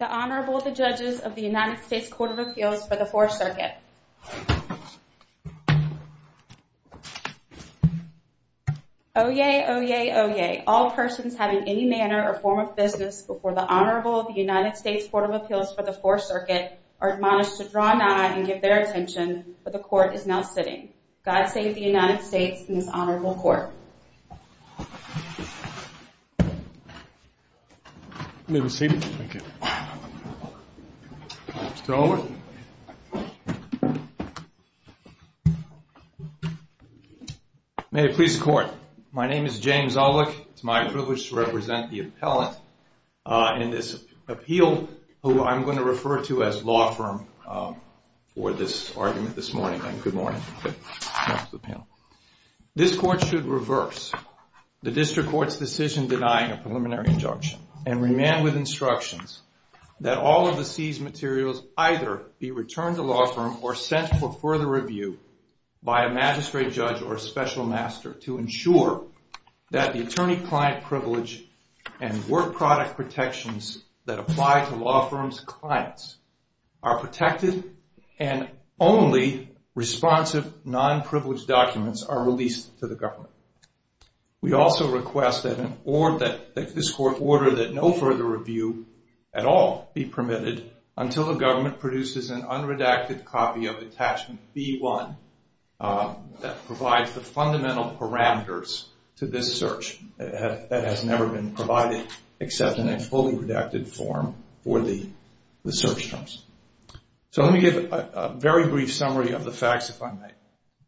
The Honorable, the Judges of the United States Court of Appeals for the Fourth Circuit. Oyez! Oyez! Oyez! All persons having any manner or form of business before the Honorable of the United States Court of Appeals for the Fourth Circuit are admonished to draw nigh and give their attention, for the Court is now sitting. God save the United States and this Honorable Court. You may be seated. Thank you. Mr. Alwick. May it please the Court. My name is James Alwick. It's my privilege to represent the appellant in this appeal who I'm going to refer to as law firm for this argument this morning. Good morning. This Court should reverse the District Court's decision denying a preliminary injunction and remand with instructions that all of the seized materials either be returned to law firm or sent for further review by a magistrate judge or a special master to ensure that the attorney-client privilege and work product protections that apply to law firms' clients are protected and only responsive non-privileged documents are released to the government. We also request that this Court order that no further review at all be permitted until the government produces an unredacted copy of Attachment B-1 that provides the fundamental parameters to this search that has never been provided except in a fully redacted form for the search terms. So let me give a very brief summary of the facts if I may.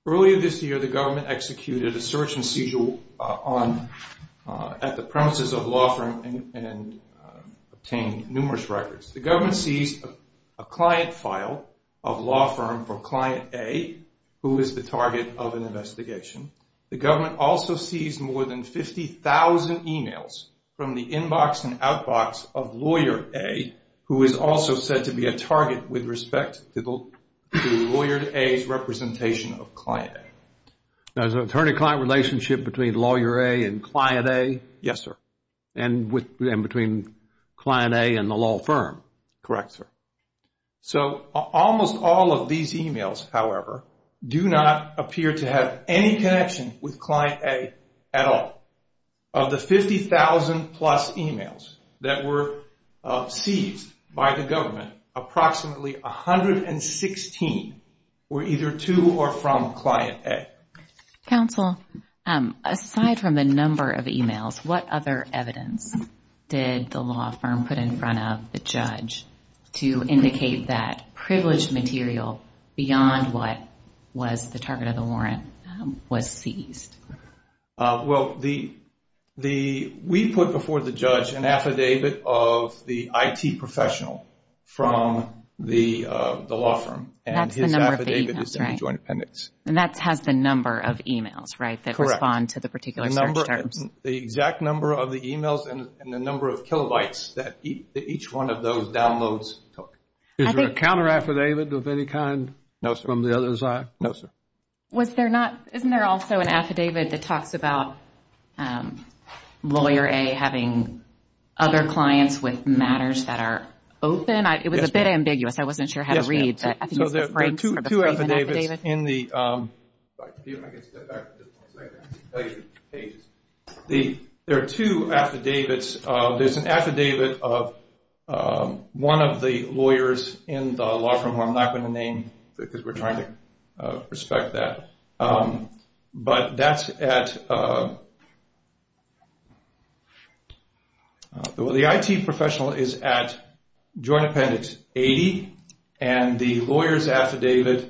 Earlier this year, the government executed a search and seizure at the premises of a law firm and obtained numerous records. The government seized a client file of a law firm for Client A who is the target of an investigation. The government also seized more than 50,000 emails from the inbox and outbox of Lawyer A who is also said to be a target with respect to Lawyer A's representation of Client A. There's an attorney-client relationship between Lawyer A and Client A? Yes, sir. And between Client A and the law firm? Correct, sir. So almost all of these emails, however, do not appear to have any connection with Client A at all. Of the 50,000 plus emails that were seized by the government, approximately 116 were either to or from Client A. Counsel, aside from the number of emails, what other evidence did the law firm put in front of the judge to indicate that privileged material beyond what was the target of the warrant was seized? Well, we put before the judge an affidavit of the IT professional from the law firm and his affidavit is in the joint appendix. And that has the number of emails, right? Correct. That respond to the particular search terms. The exact number of the emails and the number of kilobytes that each one of those downloads took. Is there a counter affidavit of any kind? No, sir. From the other side? No, sir. Isn't there also an affidavit that talks about Lawyer A having other clients with matters that are open? It was a bit ambiguous. I wasn't sure how to read. Yes, ma'am. There are two affidavits in the... There are two affidavits. There's an affidavit of one of the lawyers in the law firm. I'm not going to name because we're trying to respect that. But that's at... The IT professional is at joint appendix 80 and the lawyer's affidavit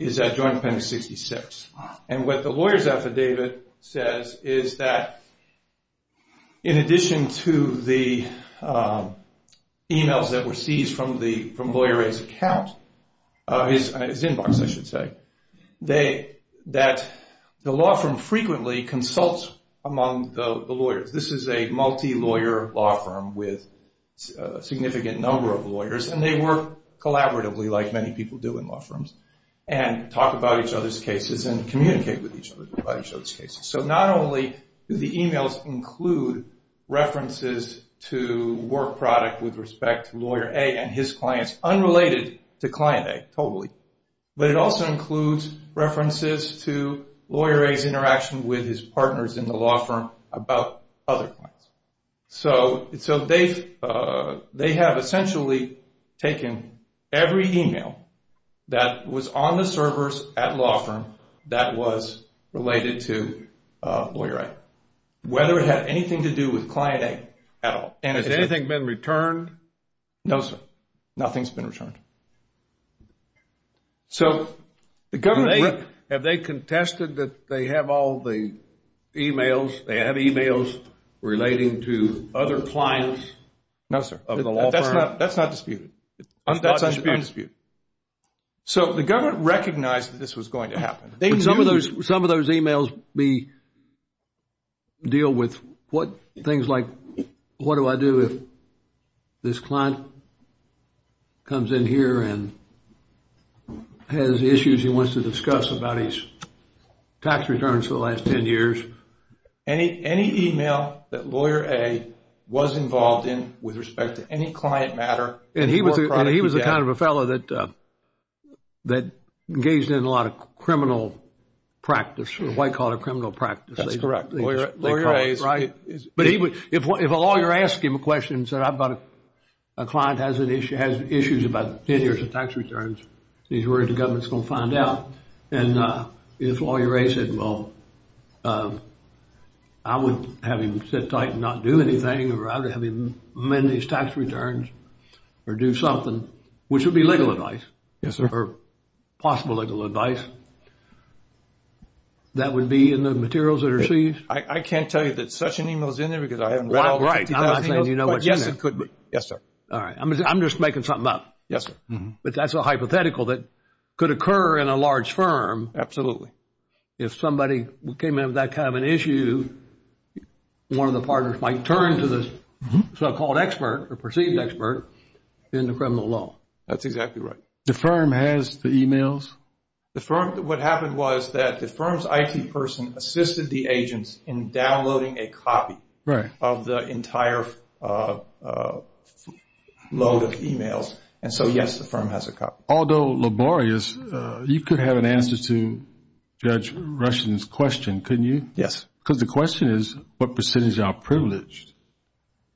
is at joint appendix 66. And what the lawyer's affidavit says is that in addition to the emails that were seized from Lawyer A's account, his inbox, I should say, that the law firm frequently consults among the lawyers. This is a multi-lawyer law firm with a significant number of lawyers. And they work collaboratively like many people do in law firms and talk about each other's cases and communicate with each other about each other's cases. So not only do the emails include references to work product with respect to Lawyer A and his clients, unrelated to Client A totally, but it also includes references to Lawyer A's interaction with his partners in the law firm about other clients. So they have essentially taken every email that was on the servers at law firm that was related to Lawyer A. Whether it had anything to do with Client A at all. Has anything been returned? No, sir. Nothing's been returned. So have they contested that they have all the emails, they have emails relating to other clients? No, sir. That's not disputed. That's undisputed. So the government recognized that this was going to happen. Some of those emails deal with things like, what do I do if this client comes in here and has issues he wants to discuss about his tax returns for the last 10 years? Any email that Lawyer A was involved in with respect to any client matter. And he was the kind of a fellow that engaged in a lot of criminal practice. White-collar criminal practice. That's correct. Lawyer A's. Right. But if a lawyer asked him a question and said, a client has issues about 10 years of tax returns, he's worried the government's going to find out. And if Lawyer A said, well, I would have him sit tight and not do anything. Or I would have him amend his tax returns or do something, which would be legal advice. Yes, sir. Or possible legal advice. That would be in the materials that are received? I can't tell you that such an email is in there because I haven't read all 20,000 emails. Right. I'm not saying you know what's in there. But yes, it could be. Yes, sir. All right. I'm just making something up. Yes, sir. But that's a hypothetical that could occur in a large firm. Absolutely. If somebody came in with that kind of an issue, one of the partners might turn to the so-called expert or perceived expert in the criminal law. That's exactly right. The firm has the emails? What happened was that the firm's IT person assisted the agents in downloading a copy of the entire load of emails. And so, yes, the firm has a copy. Although laborious, you could have an answer to Judge Rushen's question, couldn't you? Yes. Because the question is, what percentage are privileged?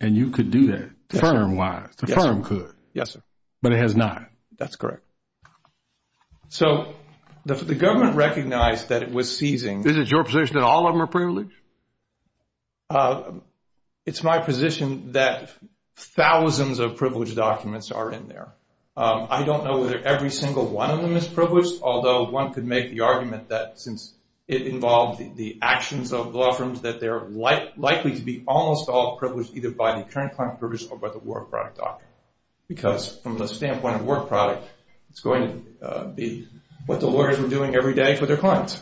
And you could do that, firm-wise. Yes, sir. The firm could. Yes, sir. But it has not. That's correct. So the government recognized that it was seizing. Is it your position that all of them are privileged? It's my position that thousands of privileged documents are in there. I don't know whether every single one of them is privileged, although one could make the argument that since it involves the actions of law firms, that they're likely to be almost all privileged either by the current client or by the work product document. Because from the standpoint of work product, it's going to be what the lawyers are doing every day for their clients.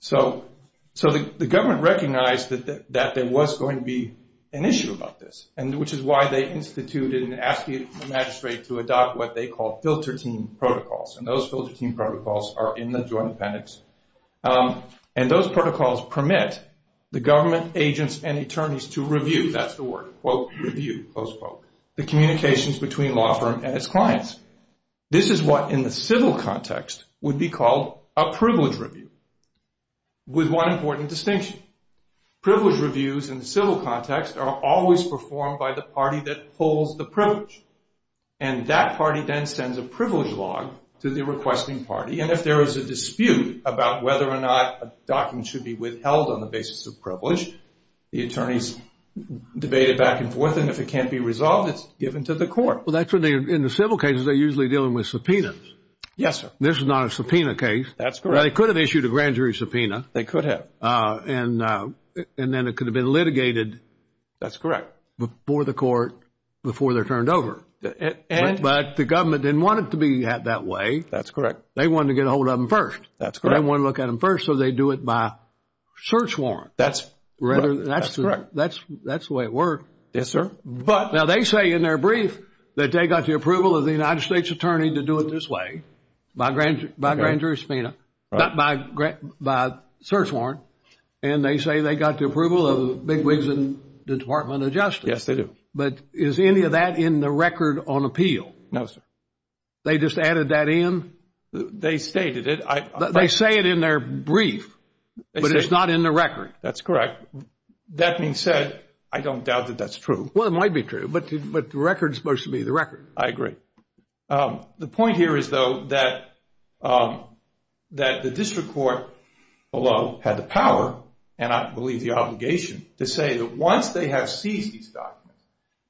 So the government recognized that there was going to be an issue about this, which is why they instituted and asked the magistrate to adopt what they called filter team protocols. And those filter team protocols are in the Joint Appendix. And those protocols permit the government agents and attorneys to review, that's the word, quote, review, close quote, the communications between law firm and its clients. This is what in the civil context would be called a privilege review with one important distinction. Privilege reviews in the civil context are always performed by the party that pulls the privilege. And that party then sends a privilege log to the requesting party. And if there is a dispute about whether or not a document should be withheld on the basis of privilege, the attorneys debate it back and forth. And if it can't be resolved, it's given to the court. In the civil cases, they're usually dealing with subpoenas. Yes, sir. This is not a subpoena case. That's correct. They could have issued a grand jury subpoena. They could have. And then it could have been litigated. That's correct. Before the court, before they're turned over. But the government didn't want it to be that way. That's correct. They wanted to get a hold of them first. That's correct. They wanted to look at them first, so they do it by search warrant. That's correct. That's the way it works. Yes, sir. Now, they say in their brief that they got the approval of the United States attorney to do it this way, by grand jury subpoena, not by search warrant, and they say they got the approval of Big Wigs and the Department of Justice. Yes, they do. But is any of that in the record on appeal? No, sir. They just added that in? They stated it. They say it in their brief, but it's not in the record. That's correct. That being said, I don't doubt that that's true. Well, it might be true, but the record is supposed to be the record. I agree. The point here is, though, that the district court below had the power, and I believe the obligation, to say that once they have seized these documents,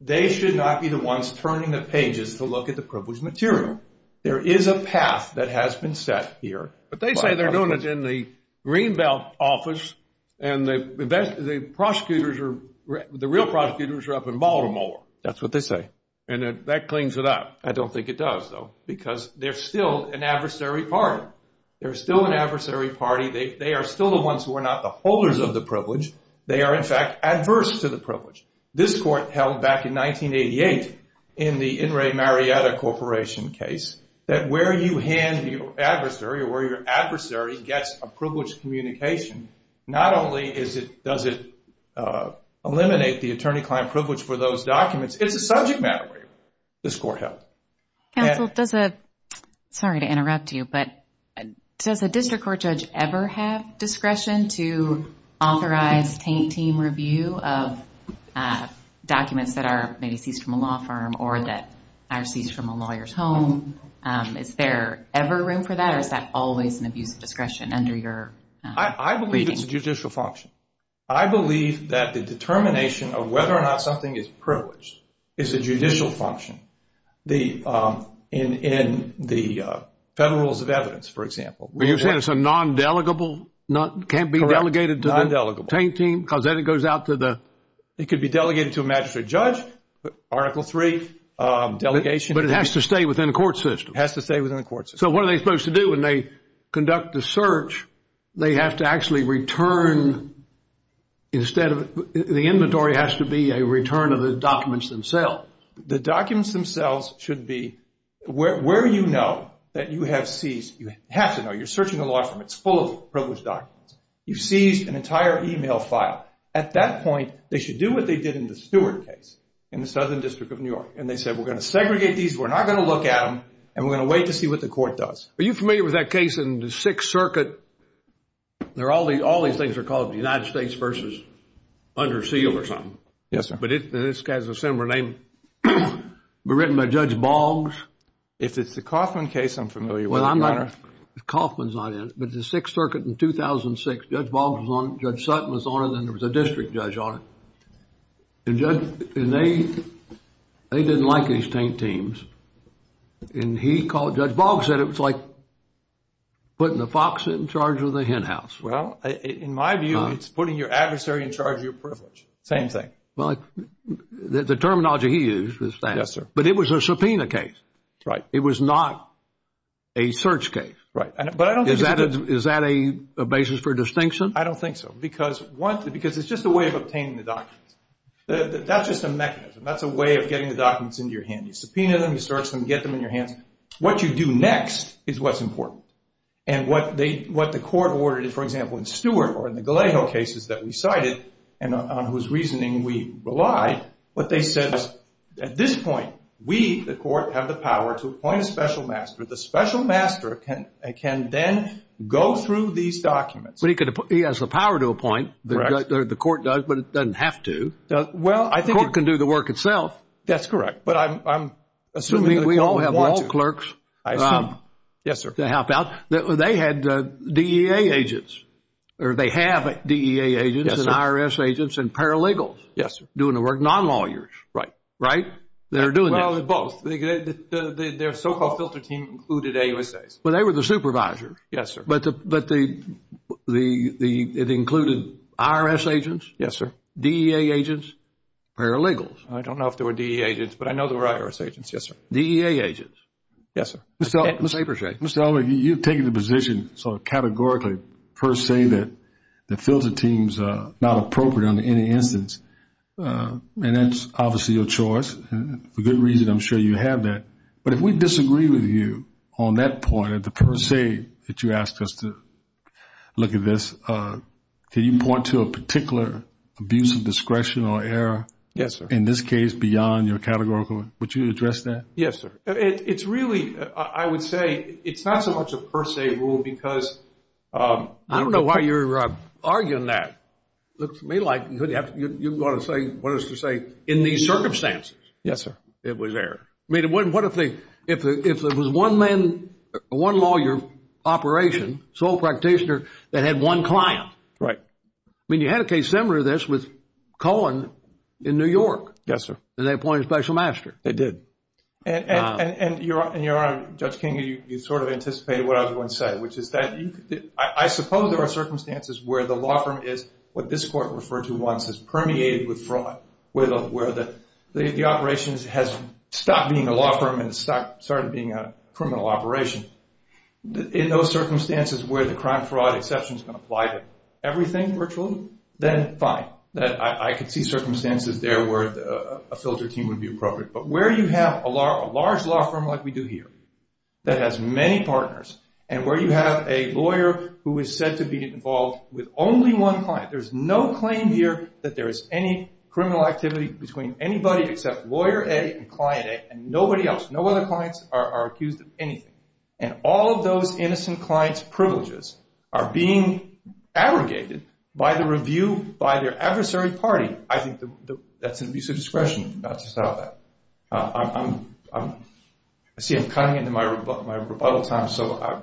they should not be the ones turning the pages to look at the privileged material. There is a path that has been set here. But they say they're doing it in the Greenbelt office, and the real prosecutors are up in Baltimore. That's what they say. And that cleans it up. I don't think it does, though, because they're still an adversary party. They're still an adversary party. They are still the ones who are not the holders of the privilege. They are, in fact, adverse to the privilege. This court held back in 1988 in the In re Marietta Corporation case that where you hand your adversary or where your adversary gets a privileged communication, not only does it eliminate the attorney-client privilege for those documents, it's a subject matter. This court held. Counsel, sorry to interrupt you, but does a district court judge ever have discretion to authorize paint team review of documents that are maybe seized from a law firm or that are seized from a lawyer's home? Is there ever room for that, or is that always an abuse of discretion under your reading? I believe it's a judicial function. I believe that the determination of whether or not something is privileged is a judicial function in the Federal Rules of Evidence, for example. You said it's a non-delegable, can't be delegated to the paint team? Correct, non-delegable. Because then it goes out to the? It could be delegated to a magistrate judge, Article III delegation. But it has to stay within the court system. It has to stay within the court system. So what are they supposed to do when they conduct the search? They have to actually return instead of the inventory has to be a return of the documents themselves. The documents themselves should be where you know that you have seized. You have to know. You're searching a law firm. It's full of privileged documents. You've seized an entire email file. At that point, they should do what they did in the Stewart case in the Southern District of New York, and they said we're going to segregate these, we're not going to look at them, and we're going to wait to see what the court does. Are you familiar with that case in the Sixth Circuit? All these things are called the United States versus under seal or something. Yes, sir. But this guy has a similar name. Written by Judge Boggs. If it's the Kaufman case, I'm familiar with it, Your Honor. Kaufman's not in it, but the Sixth Circuit in 2006, Judge Boggs was on it, Judge Sutton was on it, and there was a district judge on it. And they didn't like these taint teams, and Judge Boggs said it was like putting the fox in charge of the hen house. Well, in my view, it's putting your adversary in charge of your privilege. Same thing. The terminology he used was that. Yes, sir. But it was a subpoena case. Right. It was not a search case. Right. Is that a basis for distinction? I don't think so. Because it's just a way of obtaining the documents. That's just a mechanism. That's a way of getting the documents into your hands. You subpoena them, you search them, get them in your hands. What you do next is what's important. And what the court ordered, for example, in Stewart or in the Galejo cases that we cited and on whose reasoning we relied, what they said is at this point, we, the court, have the power to appoint a special master. The special master can then go through these documents. He has the power to appoint. The court does, but it doesn't have to. The court can do the work itself. That's correct. But I'm assuming that the court would want to. We all have law clerks. I assume. Yes, sir. To help out. They had DEA agents, or they have DEA agents and IRS agents and paralegals doing the work, non-lawyers. Right. Right? They're doing that. Well, they're both. Their so-called filter team included AUSAs. But they were the supervisors. Yes, sir. But it included IRS agents? Yes, sir. DEA agents? Paralegals? I don't know if there were DEA agents, but I know there were IRS agents. Yes, sir. DEA agents? Yes, sir. Mr. Elmer, you've taken the position sort of categorically, per se, that the filter team is not appropriate under any instance. And that's obviously your choice. For good reason, I'm sure you have that. But if we disagree with you on that point, the per se that you asked us to look at this, can you point to a particular abuse of discretion or error? Yes, sir. In this case, beyond your categorical, would you address that? Yes, sir. It's really, I would say, it's not so much a per se rule because I don't know why you're arguing that. It looks to me like you're going to say what is to say in these circumstances. Yes, sir. It was error. I mean, what if it was one lawyer operation, sole practitioner, that had one client? Right. I mean, you had a case similar to this with Cohen in New York. Yes, sir. And they appointed a special master. They did. And, Your Honor, Judge King, you sort of anticipated what I was going to say, which is that I suppose there are circumstances where the law firm is what this court referred to once as permeated with fraud, where the operations has stopped being a law firm and started being a criminal operation. In those circumstances where the crime-fraud exception is going to apply to everything virtually, then fine. I could see circumstances there where a filter team would be appropriate. But where you have a large law firm like we do here that has many partners and where you have a lawyer who is said to be involved with only one client, there's no claim here that there is any criminal activity between anybody except lawyer A and client A and nobody else. No other clients are accused of anything. And all of those innocent clients' privileges are being aggregated by the review, by their adversary party. I think that's an abuse of discretion not to settle that. I see I'm cutting into my rebuttal time, so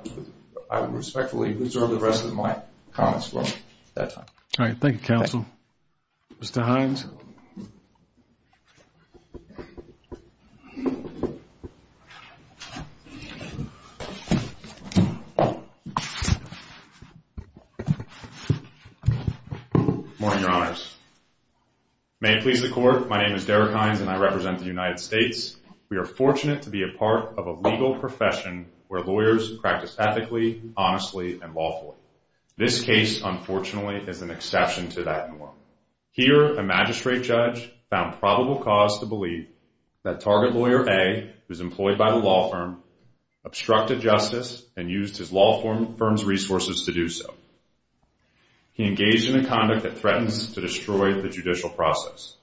I would respectfully reserve the rest of my comments for that time. All right. Thank you, counsel. Mr. Hines. Morning, Your Honors. May it please the Court, my name is Derek Hines and I represent the United States. We are fortunate to be a part of a legal profession where lawyers practice ethically, honestly, and lawfully. This case, unfortunately, is an exception to that norm. Here a magistrate judge found probable cause to believe that target lawyer A, who's employed by the law firm, obstructed justice and used his law firm's resources to do so. He engaged in a conduct that threatens to destroy the judicial process.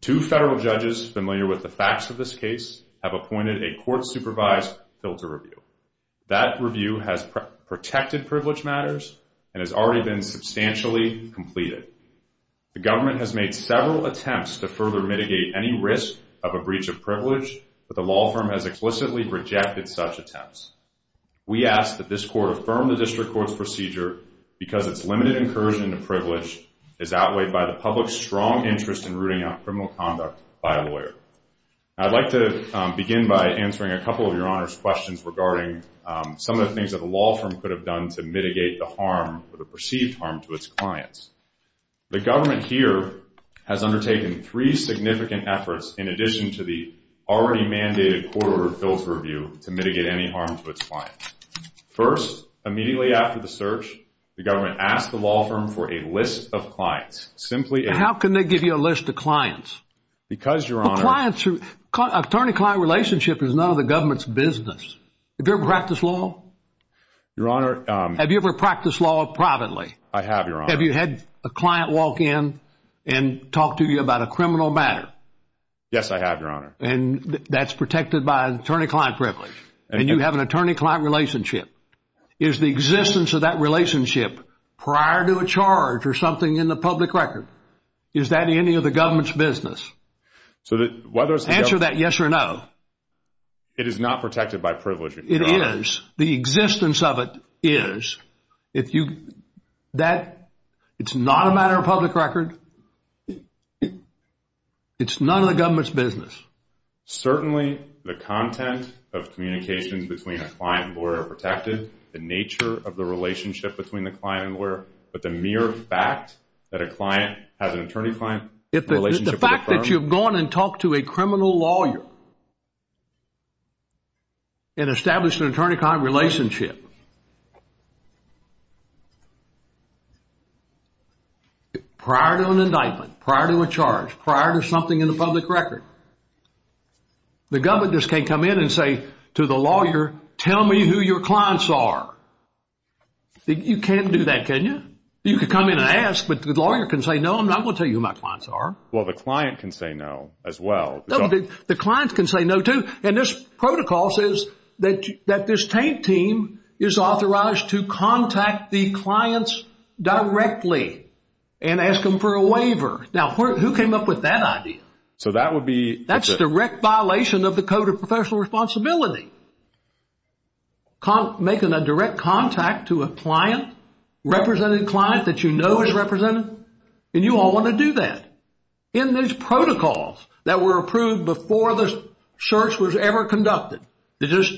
Two federal judges familiar with the facts of this case have appointed a court-supervised filter review. That review has protected privilege matters and has already been substantially completed. The government has made several attempts to further mitigate any risk of a breach of privilege, but the law firm has explicitly rejected such attempts. We ask that this court affirm the district court's procedure because its limited incursion into privilege is outweighed by the public's strong interest in rooting out criminal conduct by a lawyer. I'd like to begin by answering a couple of Your Honors' questions regarding some of the things that the law firm could have done to mitigate the perceived harm to its clients. The government here has undertaken three significant efforts in addition to the already mandated court-ordered filter review to mitigate any harm to its clients. First, immediately after the search, the government asked the law firm for a list of clients. How can they give you a list of clients? Because, Your Honor... Attorney-client relationship is none of the government's business. Have you ever practiced law? Your Honor... Have you ever practiced law privately? I have, Your Honor. Have you had a client walk in and talk to you about a criminal matter? Yes, I have, Your Honor. And that's protected by an attorney-client privilege. And you have an attorney-client relationship. Is the existence of that relationship prior to a charge or something in the public record? Is that any of the government's business? Answer that yes or no. It is not protected by privilege, Your Honor. It is. The existence of it is. It's not a matter of public record. It's none of the government's business. Certainly, the content of communications between a client and lawyer are protected, the nature of the relationship between the client and lawyer, but the mere fact that a client has an attorney-client relationship with a firm... The fact that you've gone and talked to a criminal lawyer and established an attorney-client relationship prior to an indictment, prior to a charge, prior to something in the public record, the government just can't come in and say to the lawyer, tell me who your clients are. You can't do that, can you? You can come in and ask, but the lawyer can say, no, I'm not going to tell you who my clients are. Well, the client can say no as well. The client can say no, too. And this protocol says that this Taint team is authorized to contact the clients directly and ask them for a waiver. Now, who came up with that idea? So that would be... That's a direct violation of the Code of Professional Responsibility. Making a direct contact to a client, represented client that you know is represented, and you all want to do that. In these protocols that were approved before the search was ever conducted, this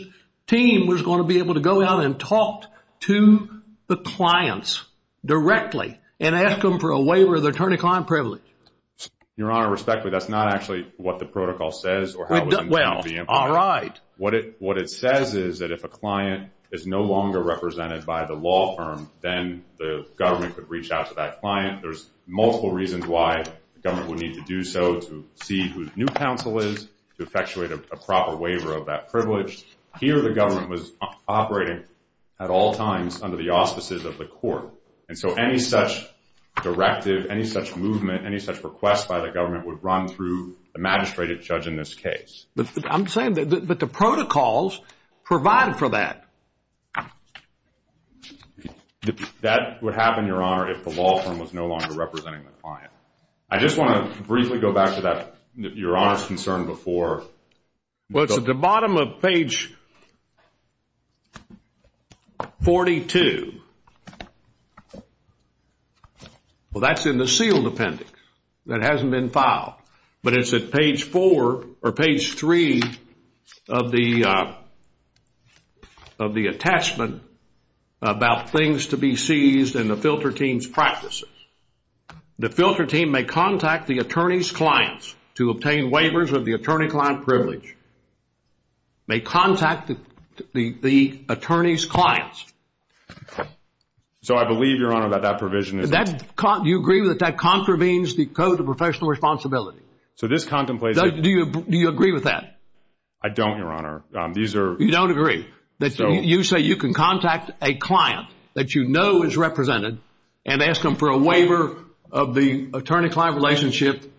team was going to be able to go out and talk to the clients directly and ask them for a waiver of their attorney-client privilege. Your Honor, respectfully, that's not actually what the protocol says or how it's going to be implemented. All right. What it says is that if a client is no longer represented by the law firm, then the government could reach out to that client. There's multiple reasons why the government would need to do so to see whose new counsel is, to effectuate a proper waiver of that privilege. Here the government was operating at all times under the auspices of the court. And so any such directive, any such movement, any such request by the government would run through the magistrate or judge in this case. I'm saying that the protocols provide for that. That would happen, Your Honor, if the law firm was no longer representing the client. I just want to briefly go back to that, Your Honor's concern before. Well, it's at the bottom of page 42. Well, that's in the sealed appendix. That hasn't been filed. But it's at page 4 or page 3 of the attachment about things to be seized and the filter team's practices. The filter team may contact the attorney's clients to obtain waivers of the attorney-client privilege. May contact the attorney's clients. So I believe, Your Honor, that that provision is... Do you agree that that contravenes the Code of Professional Responsibility? So this contemplates... Do you agree with that? I don't, Your Honor. These are... You don't agree. You say you can contact a client that you know is represented and ask them for a waiver of the attorney-client relationship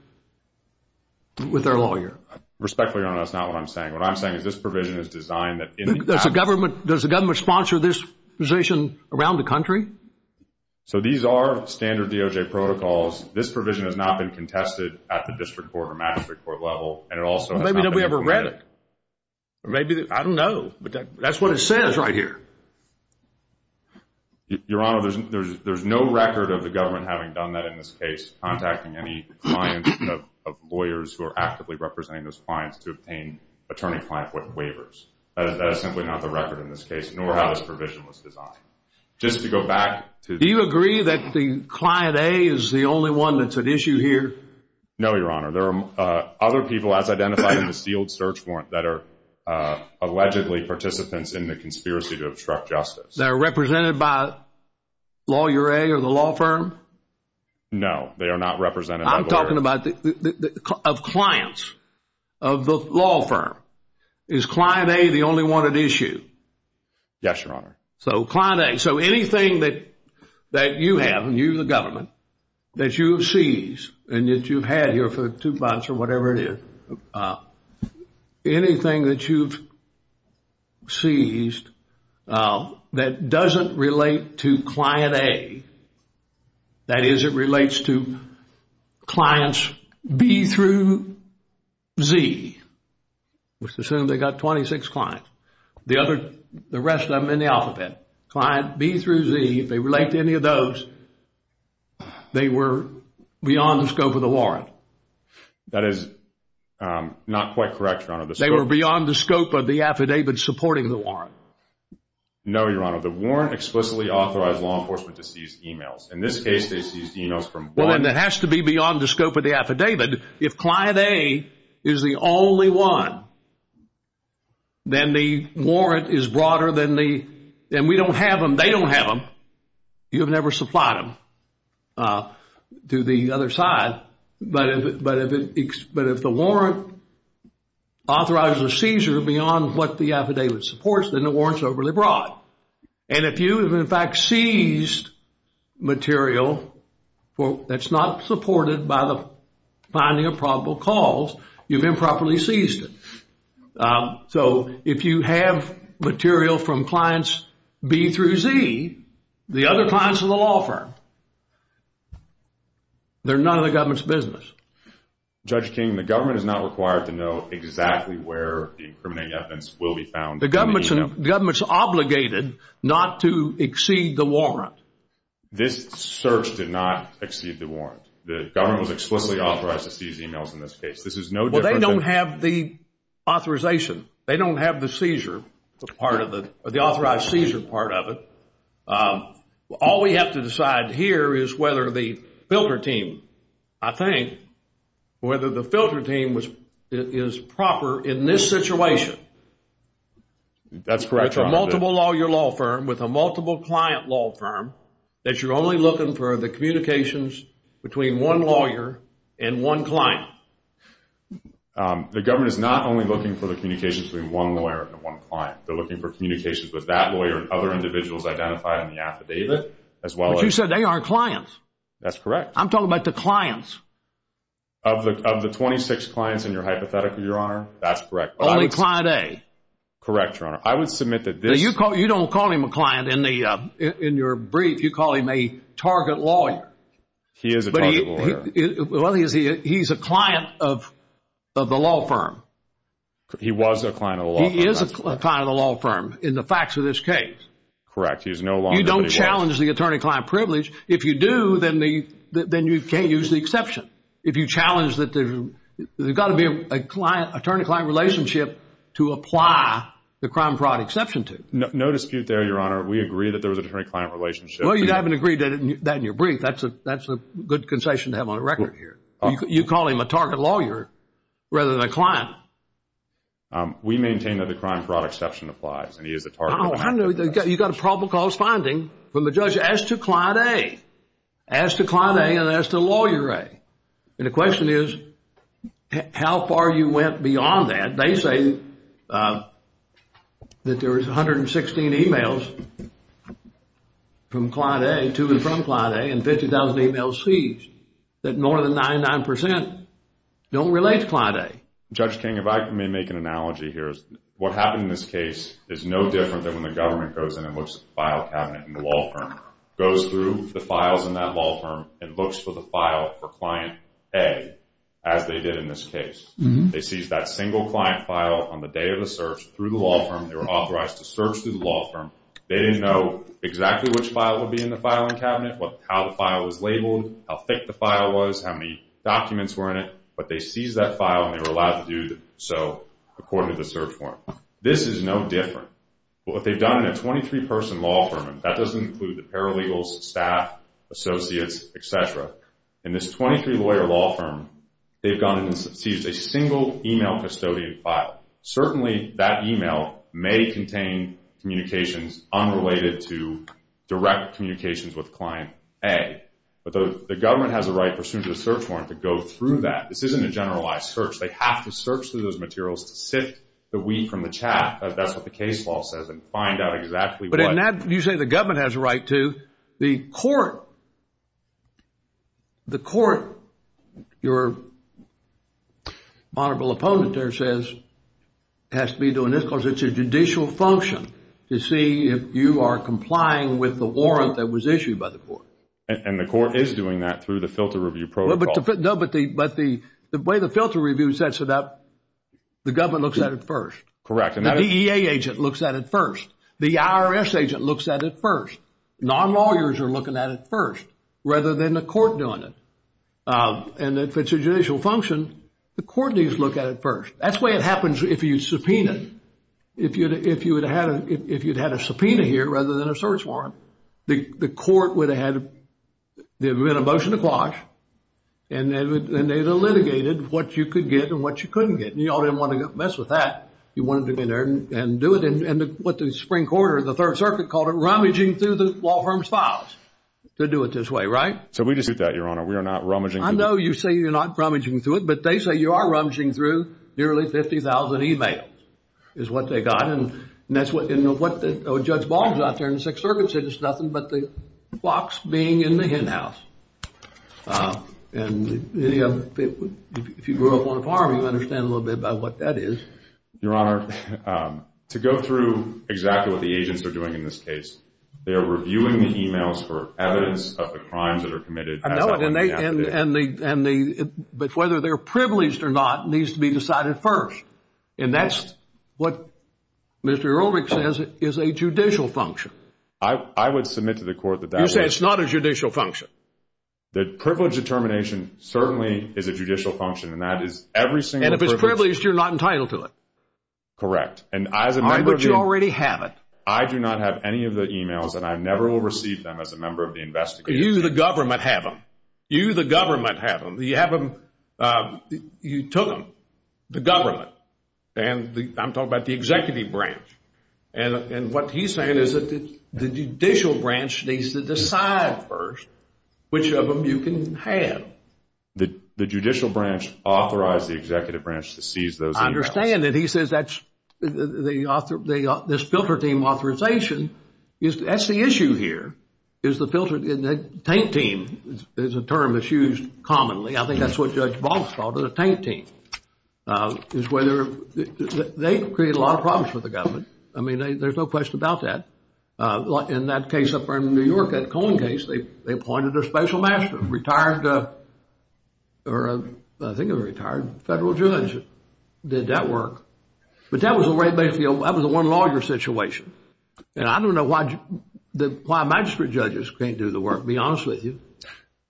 with their lawyer. Respectfully, Your Honor, that's not what I'm saying. What I'm saying is this provision is designed that... Does the government sponsor this position around the country? So these are standard DOJ protocols. This provision has not been contested at the district court or magistrate court level, and it also has not been implemented. Maybe they've never read it. I don't know, but that's what it says right here. Your Honor, there's no record of the government having done that in this case, contacting any clients of lawyers who are actively representing those clients to obtain attorney-client waivers. That is simply not the record in this case, nor how this provision was designed. Just to go back to... Do you agree that Client A is the only one that's at issue here? No, Your Honor. There are other people, as identified in the sealed search warrant, that are allegedly participants in the conspiracy to obstruct justice. They're represented by Lawyer A or the law firm? No, they are not represented by the lawyer. I'm talking about clients of the law firm. Is Client A the only one at issue? Yes, Your Honor. So Client A. So anything that you have, and you're the government, that you have seized and that you've had here for two months or whatever it is, anything that you've seized that doesn't relate to Client A, that is, it relates to clients B through Z, let's assume they've got 26 clients, the rest of them in the alphabet, Client B through Z, if they relate to any of those, they were beyond the scope of the warrant. That is not quite correct, Your Honor. They were beyond the scope of the affidavit supporting the warrant? No, Your Honor. The warrant explicitly authorized law enforcement to seize emails. In this case, they seized emails from... Well, then it has to be beyond the scope of the affidavit. If Client A is the only one, then the warrant is broader than the... Then we don't have them. They don't have them. You've never supplied them to the other side. But if the warrant authorizes a seizure beyond what the affidavit supports, then the warrant's overly broad. And if you have, in fact, seized material that's not supported by the finding of probable cause, you've improperly seized it. So if you have material from Clients B through Z, the other clients of the law firm, they're none of the government's business. Judge King, the government is not required to know exactly where the incriminating evidence will be found. The government's obligated not to exceed the warrant. This search did not exceed the warrant. The government was explicitly authorized to seize emails in this case. This is no different than... Well, they don't have the authorization. They don't have the seizure part of it, or the authorized seizure part of it. All we have to decide here is whether the filter team, I think, whether the filter team is proper in this situation. That's correct, Your Honor. With a multiple lawyer law firm, with a multiple client law firm, that you're only looking for the communications between one lawyer and one client? The government is not only looking for the communications between one lawyer and one client. They're looking for communications with that lawyer and other individuals identified in the affidavit, as well as... But you said they aren't clients. That's correct. I'm talking about the clients. Of the 26 clients in your hypothetical, Your Honor, that's correct. Only Client A? Correct, Your Honor. I would submit that this... In your brief, you call him a target lawyer. He is a target lawyer. Well, he's a client of the law firm. He was a client of the law firm. He is a client of the law firm in the facts of this case. Correct. He's no longer... You don't challenge the attorney-client privilege. If you do, then you can't use the exception. If you challenge that there's got to be an attorney-client relationship to apply the crime-fraud exception to. No dispute there, Your Honor. We agree that there was an attorney-client relationship. Well, you haven't agreed that in your brief. That's a good concession to have on the record here. You call him a target lawyer rather than a client. We maintain that the crime-fraud exception applies, and he is a target lawyer. You've got a probable cause finding from the judge as to Client A, as to Client A and as to Lawyer A. And the question is how far you went beyond that. They say that there was 116 e-mails from Client A to and from Client A, and 50,000 e-mails seized, that more than 99% don't relate to Client A. Judge King, if I may make an analogy here. What happened in this case is no different than when the government goes in and looks at the file cabinet in the law firm. Goes through the files in that law firm and looks for the file for Client A as they did in this case. They seized that single client file on the day of the search through the law firm. They were authorized to search through the law firm. They didn't know exactly which file would be in the filing cabinet, how the file was labeled, how thick the file was, how many documents were in it. But they seized that file, and they were allowed to do so according to the search form. This is no different. What they've done in a 23-person law firm, and that doesn't include the paralegals, staff, associates, etc. In this 23-lawyer law firm, they've gone in and seized a single e-mail custodian file. Certainly, that e-mail may contain communications unrelated to direct communications with Client A. But the government has a right pursuant to the search warrant to go through that. This isn't a generalized search. They have to search through those materials to sift the wheat from the chaff. That's what the case law says, and find out exactly what. You say the government has a right to. The court, your honorable opponent there says, has to be doing this because it's a judicial function to see if you are complying with the warrant that was issued by the court. And the court is doing that through the filter review protocol. No, but the way the filter review sets it up, the government looks at it first. Correct. The DEA agent looks at it first. The IRS agent looks at it first. Non-lawyers are looking at it first rather than the court doing it. And if it's a judicial function, the court needs to look at it first. That's the way it happens if you subpoena. If you'd had a subpoena here rather than a search warrant, the court would have had a motion to quash, and they would have litigated what you could get and what you couldn't get. And you all didn't want to mess with that. You wanted to get in there and do it. And what the spring quarter, the Third Circuit called it, rummaging through the law firm's files to do it this way, right? So we dispute that, Your Honor. We are not rummaging through. I know you say you're not rummaging through it, but they say you are rummaging through nearly 50,000 e-mails is what they got. And that's what Judge Baum's out there in the Sixth Circuit said. It's nothing but the box being in the hen house. And if you grew up on a farm, you understand a little bit about what that is. Your Honor, to go through exactly what the agents are doing in this case, they are reviewing the e-mails for evidence of the crimes that are committed. But whether they're privileged or not needs to be decided first. And that's what Mr. Ehrlich says is a judicial function. I would submit to the court that that is. But it's not a judicial function. The privilege determination certainly is a judicial function, and that is every single privilege. And if it's privileged, you're not entitled to it. Correct. But you already have it. I do not have any of the e-mails, and I never will receive them as a member of the investigation. You, the government, have them. You, the government, have them. You have them. You took them. The government. And I'm talking about the executive branch. And what he's saying is that the judicial branch needs to decide first which of them you can have. The judicial branch authorized the executive branch to seize those e-mails. I understand that. He says that's this filter team authorization. That's the issue here, is the filter team. The tank team is a term that's used commonly. I think that's what Judge Baltz called it, a tank team. They create a lot of problems for the government. I mean, there's no question about that. In that case up in New York, that Cohen case, they appointed a special master, a retired federal judge that did that work. But that was the one larger situation. And I don't know why magistrate judges can't do the work, to be honest with you.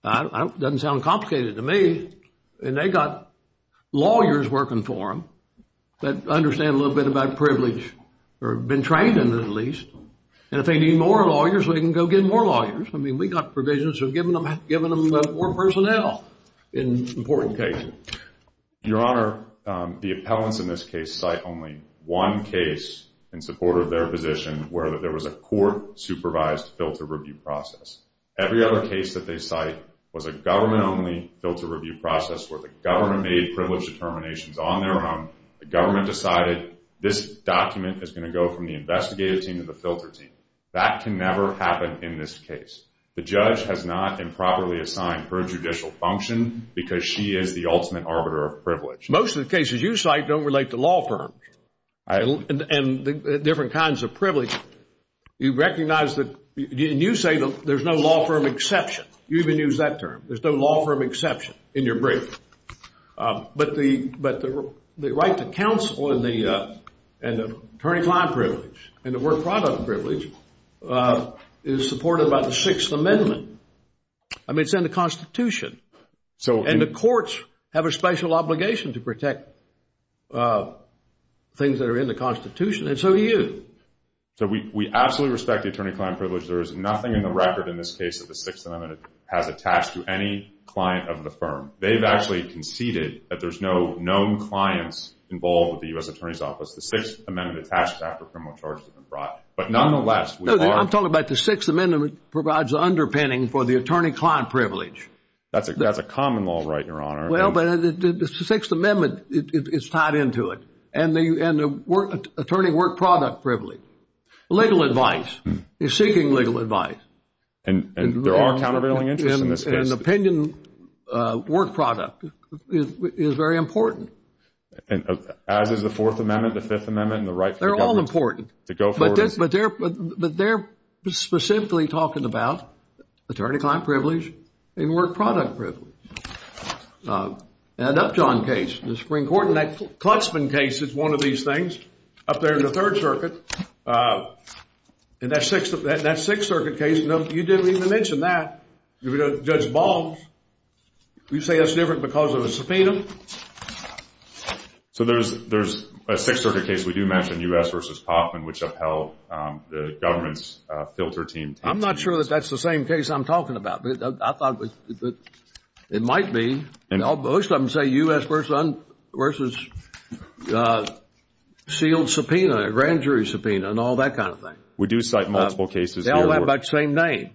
It doesn't sound complicated to me. And they got lawyers working for them that understand a little bit about privilege, or have been trained in it at least. And if they need more lawyers, they can go get more lawyers. I mean, we got provisions of giving them more personnel in important cases. Your Honor, the appellants in this case cite only one case in support of their position where there was a court-supervised filter review process. Every other case that they cite was a government-only filter review process where the government made privilege determinations on their own. The government decided this document is going to go from the investigative team to the filter team. That can never happen in this case. The judge has not improperly assigned her judicial function because she is the ultimate arbiter of privilege. Most of the cases you cite don't relate to law firms and different kinds of privilege. You recognize that, and you say there's no law firm exception. You even use that term. There's no law firm exception in your brief. But the right to counsel and the attorney-client privilege and the work-product privilege is supported by the Sixth Amendment. I mean, it's in the Constitution. And the courts have a special obligation to protect things that are in the Constitution. And so do you. So we absolutely respect the attorney-client privilege. There is nothing in the record in this case that the Sixth Amendment has attached to any client of the firm. They've actually conceded that there's no known clients involved with the U.S. Attorney's Office. The Sixth Amendment attached after criminal charges have been brought. But nonetheless, we are— I'm talking about the Sixth Amendment provides the underpinning for the attorney-client privilege. That's a common law right, Your Honor. Well, but the Sixth Amendment is tied into it. And the attorney work-product privilege, legal advice, is seeking legal advice. And there are countervailing interests in this case. And opinion work-product is very important. As is the Fourth Amendment, the Fifth Amendment, and the right for the government to go forward. They're all important. But they're specifically talking about attorney-client privilege and work-product privilege. An Upjohn case, the Supreme Court, and that Klutzman case is one of these things up there in the Third Circuit. And that Sixth Circuit case, you didn't even mention that. Judge Balmes, you say that's different because of a subpoena. So there's a Sixth Circuit case we do mention, U.S. v. Kauffman, which upheld the government's filter team. I'm not sure that that's the same case I'm talking about. I thought it might be. Most of them say U.S. v. sealed subpoena, grand jury subpoena, and all that kind of thing. We do cite multiple cases. They all have about the same name.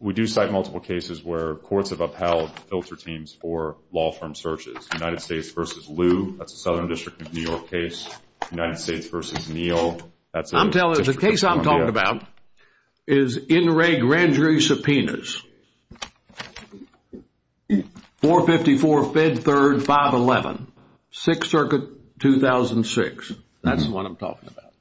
We do cite multiple cases where courts have upheld filter teams for law firm searches. United States v. Liu, that's a Southern District of New York case. And I'm telling you, the case I'm talking about is NRA grand jury subpoenas. 454, Fed Third, 511. Sixth Circuit, 2006. That's the one I'm talking about.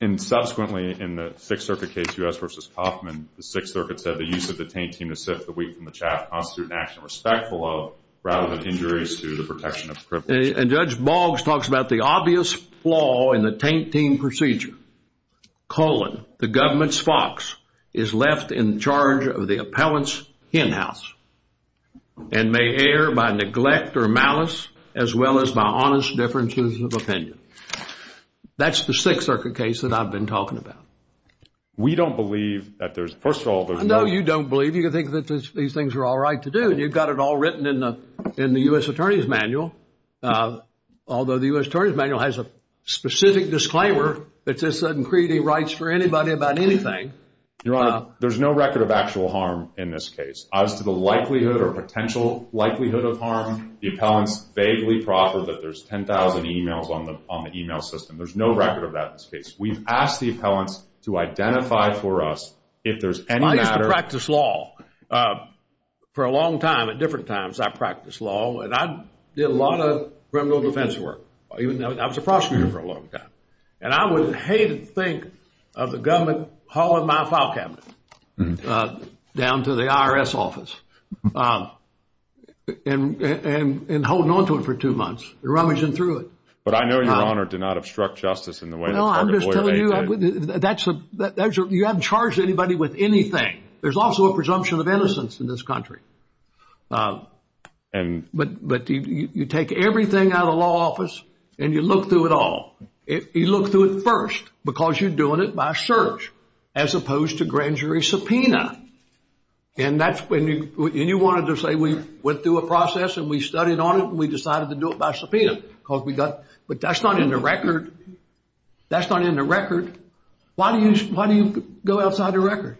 And subsequently in the Sixth Circuit case, U.S. v. Kauffman, the Sixth Circuit said, the use of the taint team to sift the wheat from the chaff constitute an action respectful of, rather than injuries to the protection of privilege. And Judge Boggs talks about the obvious flaw in the taint team procedure. Colon, the government's fox, is left in charge of the appellant's hen house and may err by neglect or malice as well as by honest differences of opinion. That's the Sixth Circuit case that I've been talking about. We don't believe that there's, first of all, those motives. No, you don't believe. You think that these things are all right to do. And you've got it all written in the U.S. Attorney's Manual, although the U.S. Attorney's Manual has a specific disclaimer that says, sudden creating rights for anybody about anything. Your Honor, there's no record of actual harm in this case. As to the likelihood or potential likelihood of harm, the appellants vaguely proffer that there's 10,000 emails on the email system. There's no record of that in this case. We've asked the appellants to identify for us if there's any matter. I practiced law for a long time. At different times I practiced law. And I did a lot of criminal defense work. I was a prosecutor for a long time. And I would hate to think of the government hauling my file cabinet down to the IRS office and holding on to it for two months and rummaging through it. But I know, Your Honor, do not obstruct justice in the way that the Court of Oil Aided. You haven't charged anybody with anything. There's also a presumption of innocence in this country. But you take everything out of the law office and you look through it all. You look through it first because you're doing it by search as opposed to grand jury subpoena. And you wanted to say we went through a process and we studied on it and we decided to do it by subpoena. But that's not in the record. That's not in the record. Why do you go outside the record?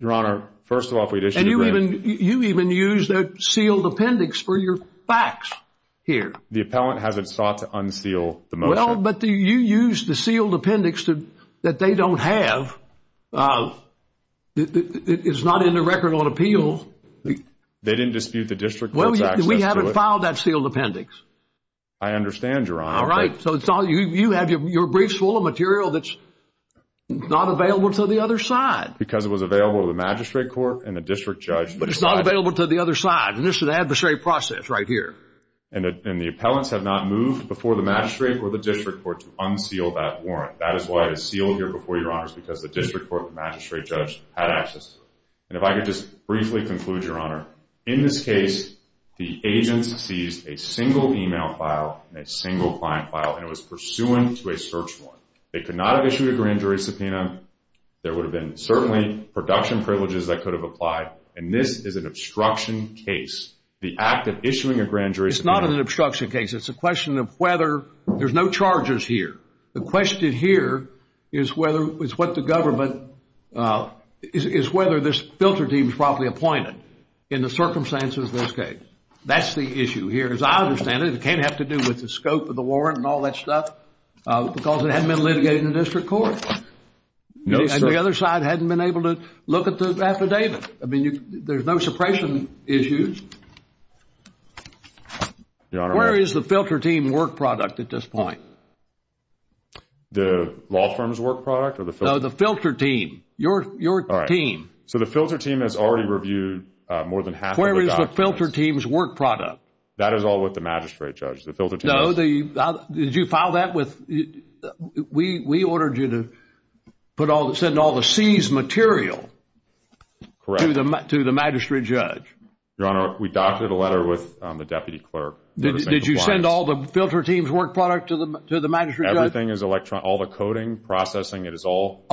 Your Honor, first of all, if we'd issued a grant. And you even used a sealed appendix for your facts here. The appellant hasn't sought to unseal the motion. Well, but you used the sealed appendix that they don't have. It's not in the record on appeal. They didn't dispute the district court's access to it? No, we haven't filed that sealed appendix. I understand, Your Honor. All right. So you have your briefs full of material that's not available to the other side. Because it was available to the magistrate court and the district judge. But it's not available to the other side. And this is an adversary process right here. And the appellants have not moved before the magistrate or the district court to unseal that warrant. That is why it is sealed here before Your Honors because the district court and magistrate judge had access to it. And if I could just briefly conclude, Your Honor. In this case, the agents seized a single e-mail file and a single client file. And it was pursuant to a search warrant. They could not have issued a grand jury subpoena. There would have been certainly production privileges that could have applied. And this is an obstruction case. The act of issuing a grand jury subpoena. It's not an obstruction case. It's a question of whether there's no charges here. The question here is whether this filter team is properly appointed in the circumstances of this case. That's the issue here. As I understand it, it can't have to do with the scope of the warrant and all that stuff. Because it hasn't been litigated in the district court. And the other side hasn't been able to look at the affidavit. I mean, there's no suppression issues. Your Honor. Where is the filter team work product at this point? The law firm's work product? No, the filter team. Your team. So the filter team has already reviewed more than half of the documents. Where is the filter team's work product? That is all with the magistrate judge. No, did you file that with? We ordered you to send all the seized material to the magistrate judge. Your Honor, we doctored a letter with the deputy clerk. Did you send all the filter team's work product to the magistrate judge? Everything is electronic. All the coding, processing, it is all.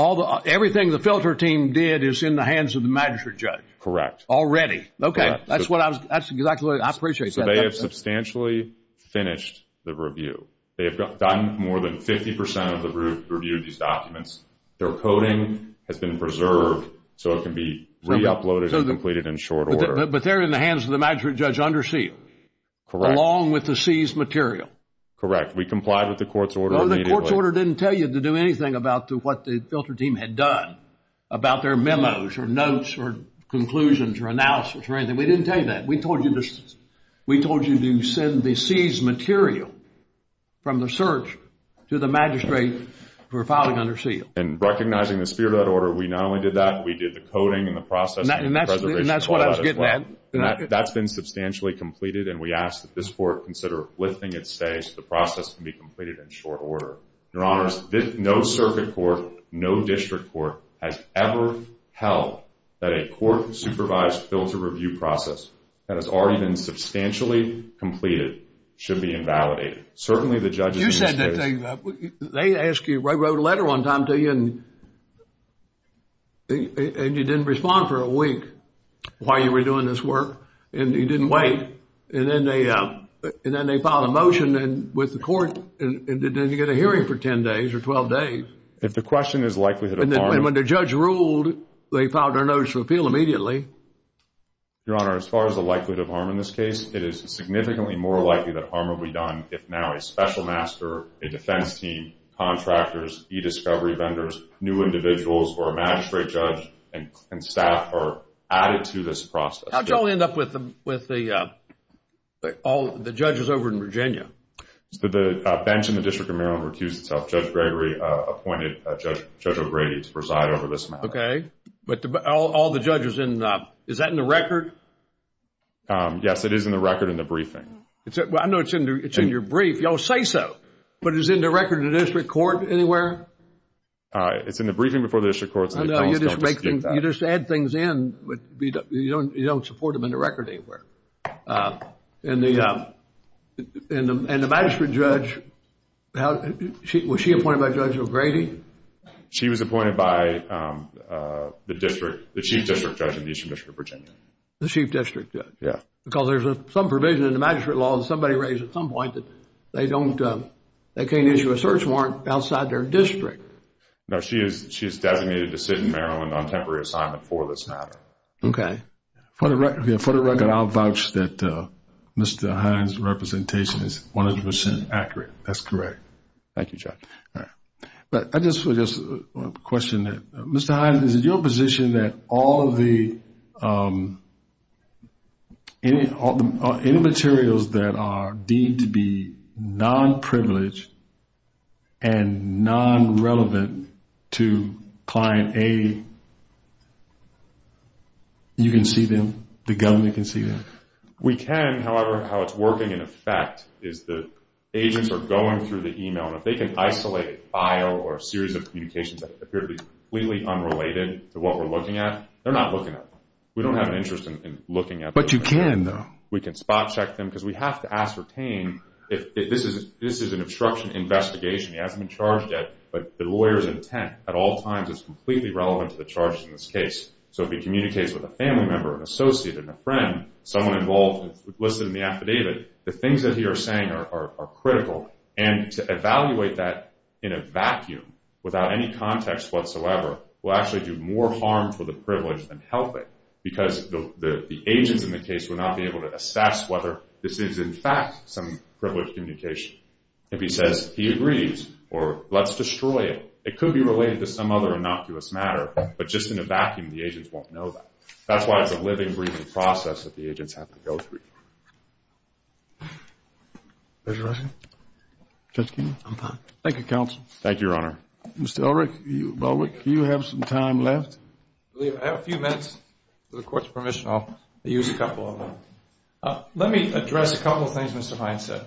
Everything the filter team did is in the hands of the magistrate judge. Correct. Already. Okay. That's exactly what I appreciate. So they have substantially finished the review. They have done more than 50% of the review of these documents. Their coding has been preserved so it can be re-uploaded and completed in short order. But they're in the hands of the magistrate judge under seal. Correct. Along with the seized material. Correct. We complied with the court's order immediately. The court's order didn't tell you to do anything about what the filter team had done, about their memos or notes or conclusions or analysis or anything. We didn't tell you that. We told you to send the seized material from the search to the magistrate for filing under seal. And recognizing the spirit of that order, we not only did that, we did the coding and the processing. And that's what I was getting at. That's been substantially completed. And we ask that this court consider lifting its stay so the process can be completed in short order. Your Honors, no circuit court, no district court has ever held that a court-supervised filter review process that has already been substantially completed should be invalidated. Certainly the judges in this case. They wrote a letter one time to you and you didn't respond for a week while you were doing this work. And you didn't wait. And then they filed a motion with the court and then you get a hearing for 10 days or 12 days. If the question is likelihood of harm. And when the judge ruled, they filed their notice of appeal immediately. Your Honor, as far as the likelihood of harm in this case, it is significantly more likely that harm will be done if now a special master, a defense team, contractors, e-discovery vendors, new individuals, or a magistrate judge and staff are added to this process. How did y'all end up with all the judges over in Virginia? The bench in the District of Maryland recused itself. Judge Gregory appointed Judge O'Grady to preside over this matter. Okay. But all the judges in, is that in the record? Yes, it is in the record in the briefing. Well, I know it's in your brief. Y'all say so. But is it in the record in the district court anywhere? It's in the briefing before the district court. You just add things in. You don't support them in the record anywhere. And the magistrate judge, was she appointed by Judge O'Grady? She was appointed by the chief district judge in the Eastern District of Virginia. The chief district judge. Yeah. Because there's some provision in the magistrate law that somebody raised at some point that they don't, they can't issue a search warrant outside their district. No, she is designated to sit in Maryland on temporary assignment for this matter. Okay. For the record, I'll vouch that Mr. Hines' representation is 100% accurate. That's correct. Thank you, Judge. But I just have a question. Mr. Hines, is it your position that all of the materials that are deemed to be non-privileged and non-relevant to client A, you can see them, the government can see them? We can. However, how it's working in effect is the agents are going through the email, and if they can isolate a file or a series of communications that appear to be completely unrelated to what we're looking at, they're not looking at them. We don't have an interest in looking at them. But you can, though. We can spot check them because we have to ascertain if this is an obstruction investigation, he hasn't been charged yet, but the lawyer's intent at all times is completely relevant to the charges in this case. So if he communicates with a family member, an associate, and a friend, someone involved, listed in the affidavit, the things that he is saying are critical, and to evaluate that in a vacuum without any context whatsoever will actually do more harm to the privilege than help it because the agents in the case will not be able to assess whether this is, in fact, some privileged communication. If he says he agrees or let's destroy it, it could be related to some other innocuous matter, but just in a vacuum the agents won't know that. That's why it's a living, breathing process that the agents have to go through. Judge Russell? Judge Keene? I'm fine. Thank you, counsel. Thank you, Your Honor. Mr. Ulrich, you have some time left? I have a few minutes. If the Court's permission, I'll use a couple of them. Let me address a couple of things Mr. Hines said.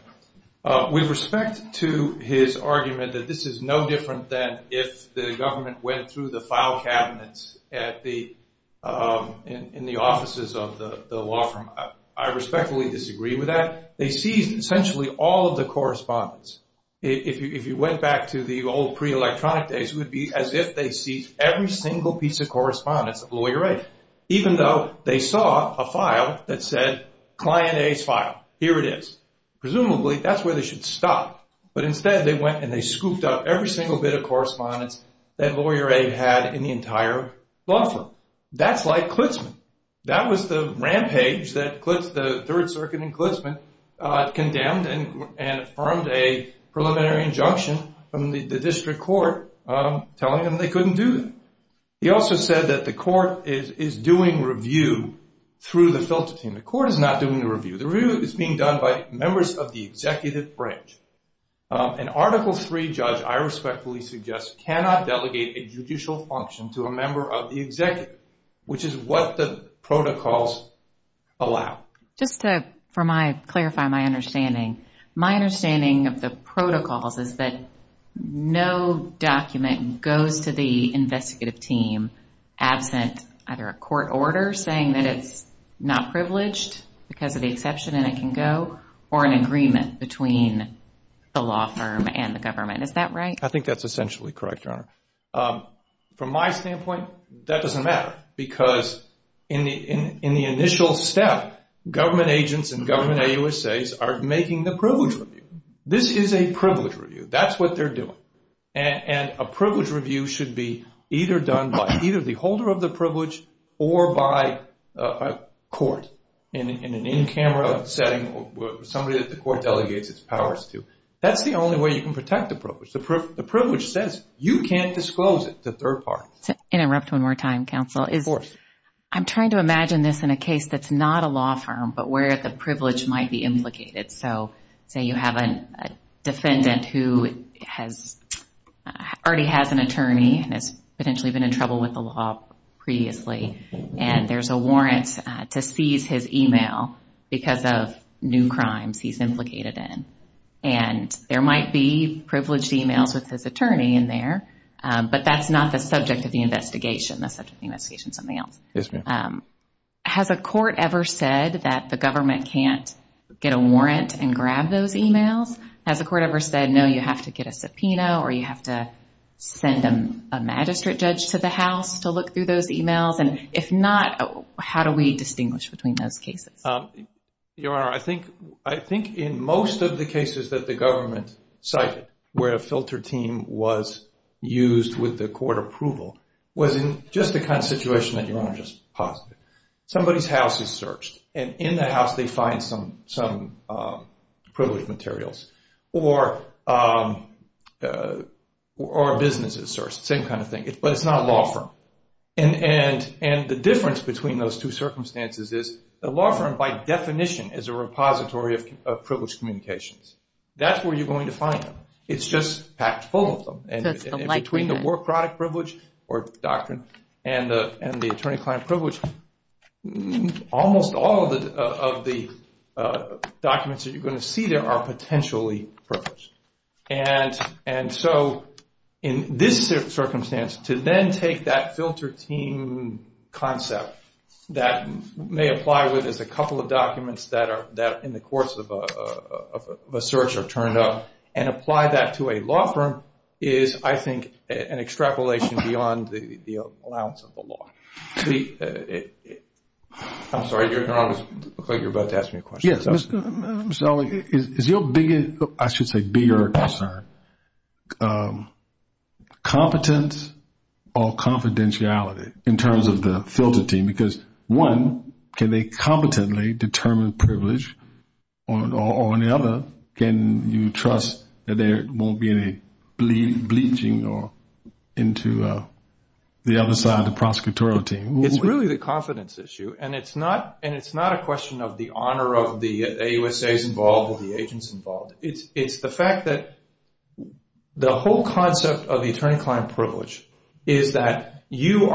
With respect to his argument that this is no different than if the government went through the file cabinets in the offices of the law firm, I respectfully disagree with that. They seized essentially all of the correspondence. If you went back to the old pre-electronic days, it would be as if they seized every single piece of correspondence of lawyer A, even though they saw a file that said client A's file. Here it is. Presumably that's where they should stop, but instead they went and they scooped up every single bit of correspondence that lawyer A had in the entire law firm. That's like Klitzman. That was the rampage that the Third Circuit and Klitzman condemned and affirmed a preliminary injunction from the district court telling them they couldn't do that. He also said that the Court is doing review through the filter team. The Court is not doing the review. The review is being done by members of the executive branch. An Article III judge, I respectfully suggest, cannot delegate a judicial function to a member of the executive, which is what the protocols allow. Just to clarify my understanding, my understanding of the protocols is that no document goes to the investigative team absent either a court order saying that it's not privileged because of the exception and it can go, or an agreement between the law firm and the government. Is that right? I think that's essentially correct, Your Honor. From my standpoint, that doesn't matter because in the initial step, government agents and government AUSAs are making the privilege review. This is a privilege review. That's what they're doing. A privilege review should be either done by either the holder of the privilege or by a court in an in-camera setting or somebody that the court delegates its powers to. That's the only way you can protect the privilege. The privilege says you can't disclose it, the third part. To interrupt one more time, counsel. Of course. I'm trying to imagine this in a case that's not a law firm but where the privilege might be implicated. Say you have a defendant who already has an attorney and has potentially been in trouble with the law previously and there's a warrant to seize his email because of new crimes he's implicated in. There might be privileged emails with his attorney in there, but that's not the subject of the investigation. The subject of the investigation is something else. Yes, ma'am. Has a court ever said that the government can't get a warrant and grab those emails? Has the court ever said, no, you have to get a subpoena or you have to send a magistrate judge to the house to look through those emails? If not, how do we distinguish between those cases? Your Honor, I think in most of the cases that the government cited where a filter team was used with the court approval was in just the kind of situation that Your Honor just posited. Somebody's house is searched and in the house they find some privileged materials or a business is searched, same kind of thing, but it's not a law firm. And the difference between those two circumstances is a law firm by definition is a repository of privileged communications. That's where you're going to find them. It's just packed full of them. So it's the likeness. Between the work product privilege or doctrine and the attorney-client privilege, almost all of the documents that you're going to see there are potentially privileged. And so in this circumstance, to then take that filter team concept that may apply with just a couple of documents that in the course of a search are turned up and apply that to a law firm is, I think, an extrapolation beyond the allowance of the law. I'm sorry, Your Honor. It looks like you're about to ask me a question. I'm sorry. Is your biggest, I should say, bigger concern competence or confidentiality in terms of the filter team? Because one, can they competently determine privilege? Or on the other, can you trust that there won't be any bleaching into the other side of the prosecutorial team? It's really the confidence issue, and it's not a question of the honor of the AUSAs involved or the agents involved. It's the fact that the whole concept of the attorney-client privilege is that you,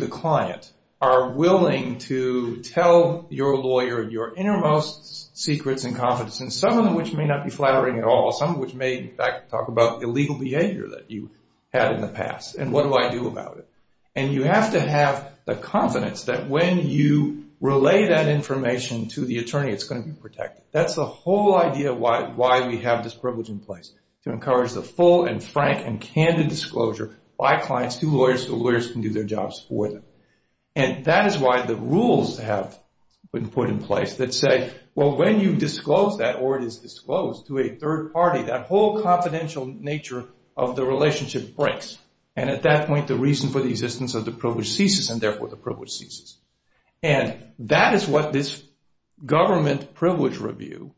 the client, are willing to tell your lawyer your innermost secrets and confidence, and some of them which may not be flattering at all, some of which may, in fact, talk about illegal behavior that you had in the past and what do I do about it. And you have to have the confidence that when you relay that information to the attorney, it's going to be protected. That's the whole idea of why we have this privilege in place, to encourage the full and frank and candid disclosure by clients to lawyers so lawyers can do their jobs for them. And that is why the rules have been put in place that say, well, when you disclose that, or it is disclosed to a third party, that whole confidential nature of the relationship breaks. And at that point, the reason for the existence of the privilege ceases, and therefore the privilege ceases. And that is what this government privilege review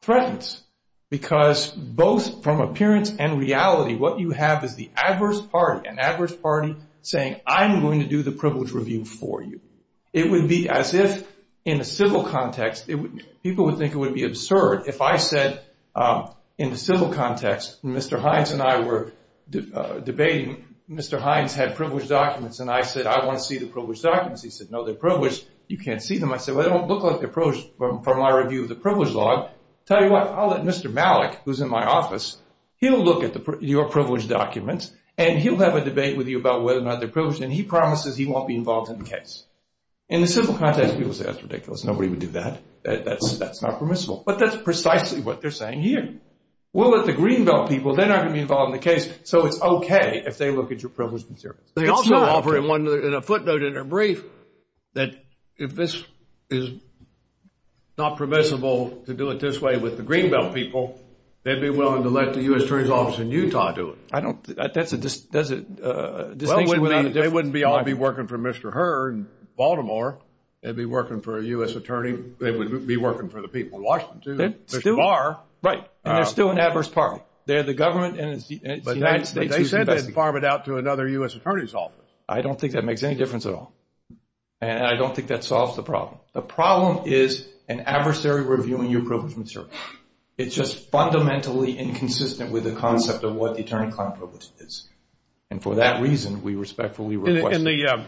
threatens, because both from appearance and reality, what you have is the adverse party, an adverse party saying, I'm going to do the privilege review for you. It would be as if in a civil context, people would think it would be absurd if I said in the civil context, Mr. Hines and I were debating, Mr. Hines had privilege documents, and I said, I want to see the privilege documents. He said, no, they're privileged. You can't see them. I said, well, they don't look like they're privileged from my review of the privilege law. Tell you what, I'll let Mr. Malik, who's in my office, he'll look at your privilege documents, and he'll have a debate with you about whether or not they're privileged, and he promises he won't be involved in the case. In the civil context, people say, that's ridiculous. Nobody would do that. That's not permissible. But that's precisely what they're saying here. We'll let the Greenbelt people, they're not going to be involved in the case, so it's okay if they look at your privilege materials. They also offer in a footnote in their brief that if this is not permissible to do it this way with the Greenbelt people, they'd be willing to let the U.S. Attorney's Office in Utah do it. I don't think that's a distinction. They wouldn't all be working for Mr. Herr in Baltimore. They'd be working for a U.S. attorney. They would be working for the people in Washington, too. Right, and they're still an adverse party. They're the government, and it's the United States who's investing. And they'd farm it out to another U.S. Attorney's Office. I don't think that makes any difference at all, and I don't think that solves the problem. The problem is an adversary reviewing your privilege material. It's just fundamentally inconsistent with the concept of what the attorney-client privilege is. And for that reason, we respectfully request that.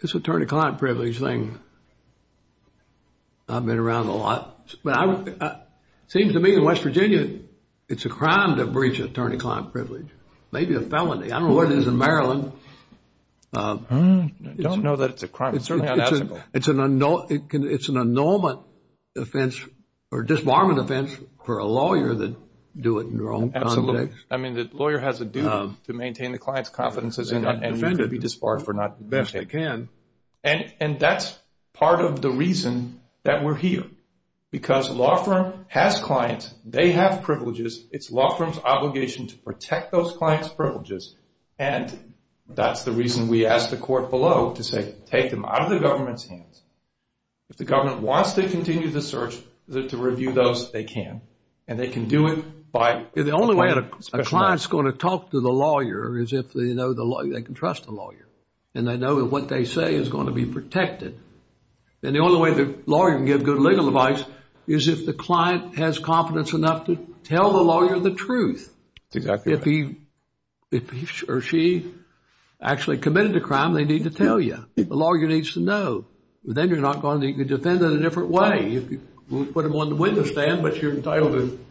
This attorney-client privilege thing, I've been around a lot. It seems to me in West Virginia, it's a crime to breach attorney-client privilege, maybe a felony. I don't know what it is in Maryland. I don't know that it's a crime. It's certainly unethical. It's an annulment offense or disbarment offense for a lawyer that do it in their own context. Absolutely. I mean, the lawyer has a duty to maintain the client's confidence and not be disbarred for not investing. And that's part of the reason that we're here. Because a law firm has clients. They have privileges. It's a law firm's obligation to protect those clients' privileges. And that's the reason we asked the court below to say take them out of the government's hands. If the government wants to continue the search, to review those, they can. And they can do it by special acts. The only way a client's going to talk to the lawyer is if they know they can trust the lawyer and they know that what they say is going to be protected. And the only way the lawyer can give good legal advice is if the client has confidence enough to tell the lawyer the truth. Exactly. If he or she actually committed a crime, they need to tell you. The lawyer needs to know. Then you're not going to defend in a different way. You can put them on the window stand, but you're entitled to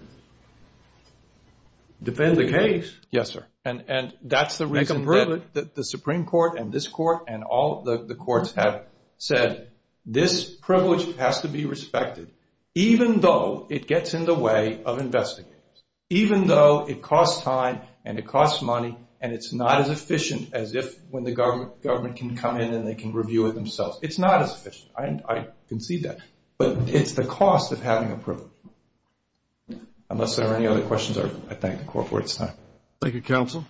defend the case. Yes, sir. And that's the reason that the Supreme Court and this court and all the courts have said this privilege has to be respected, even though it gets in the way of investigators, even though it costs time and it costs money and it's not as efficient as if when the government can come in and they can review it themselves. It's not as efficient. I can see that. But it's the cost of having a privilege. Unless there are any other questions, I thank the court for its time. Thank you, counsel.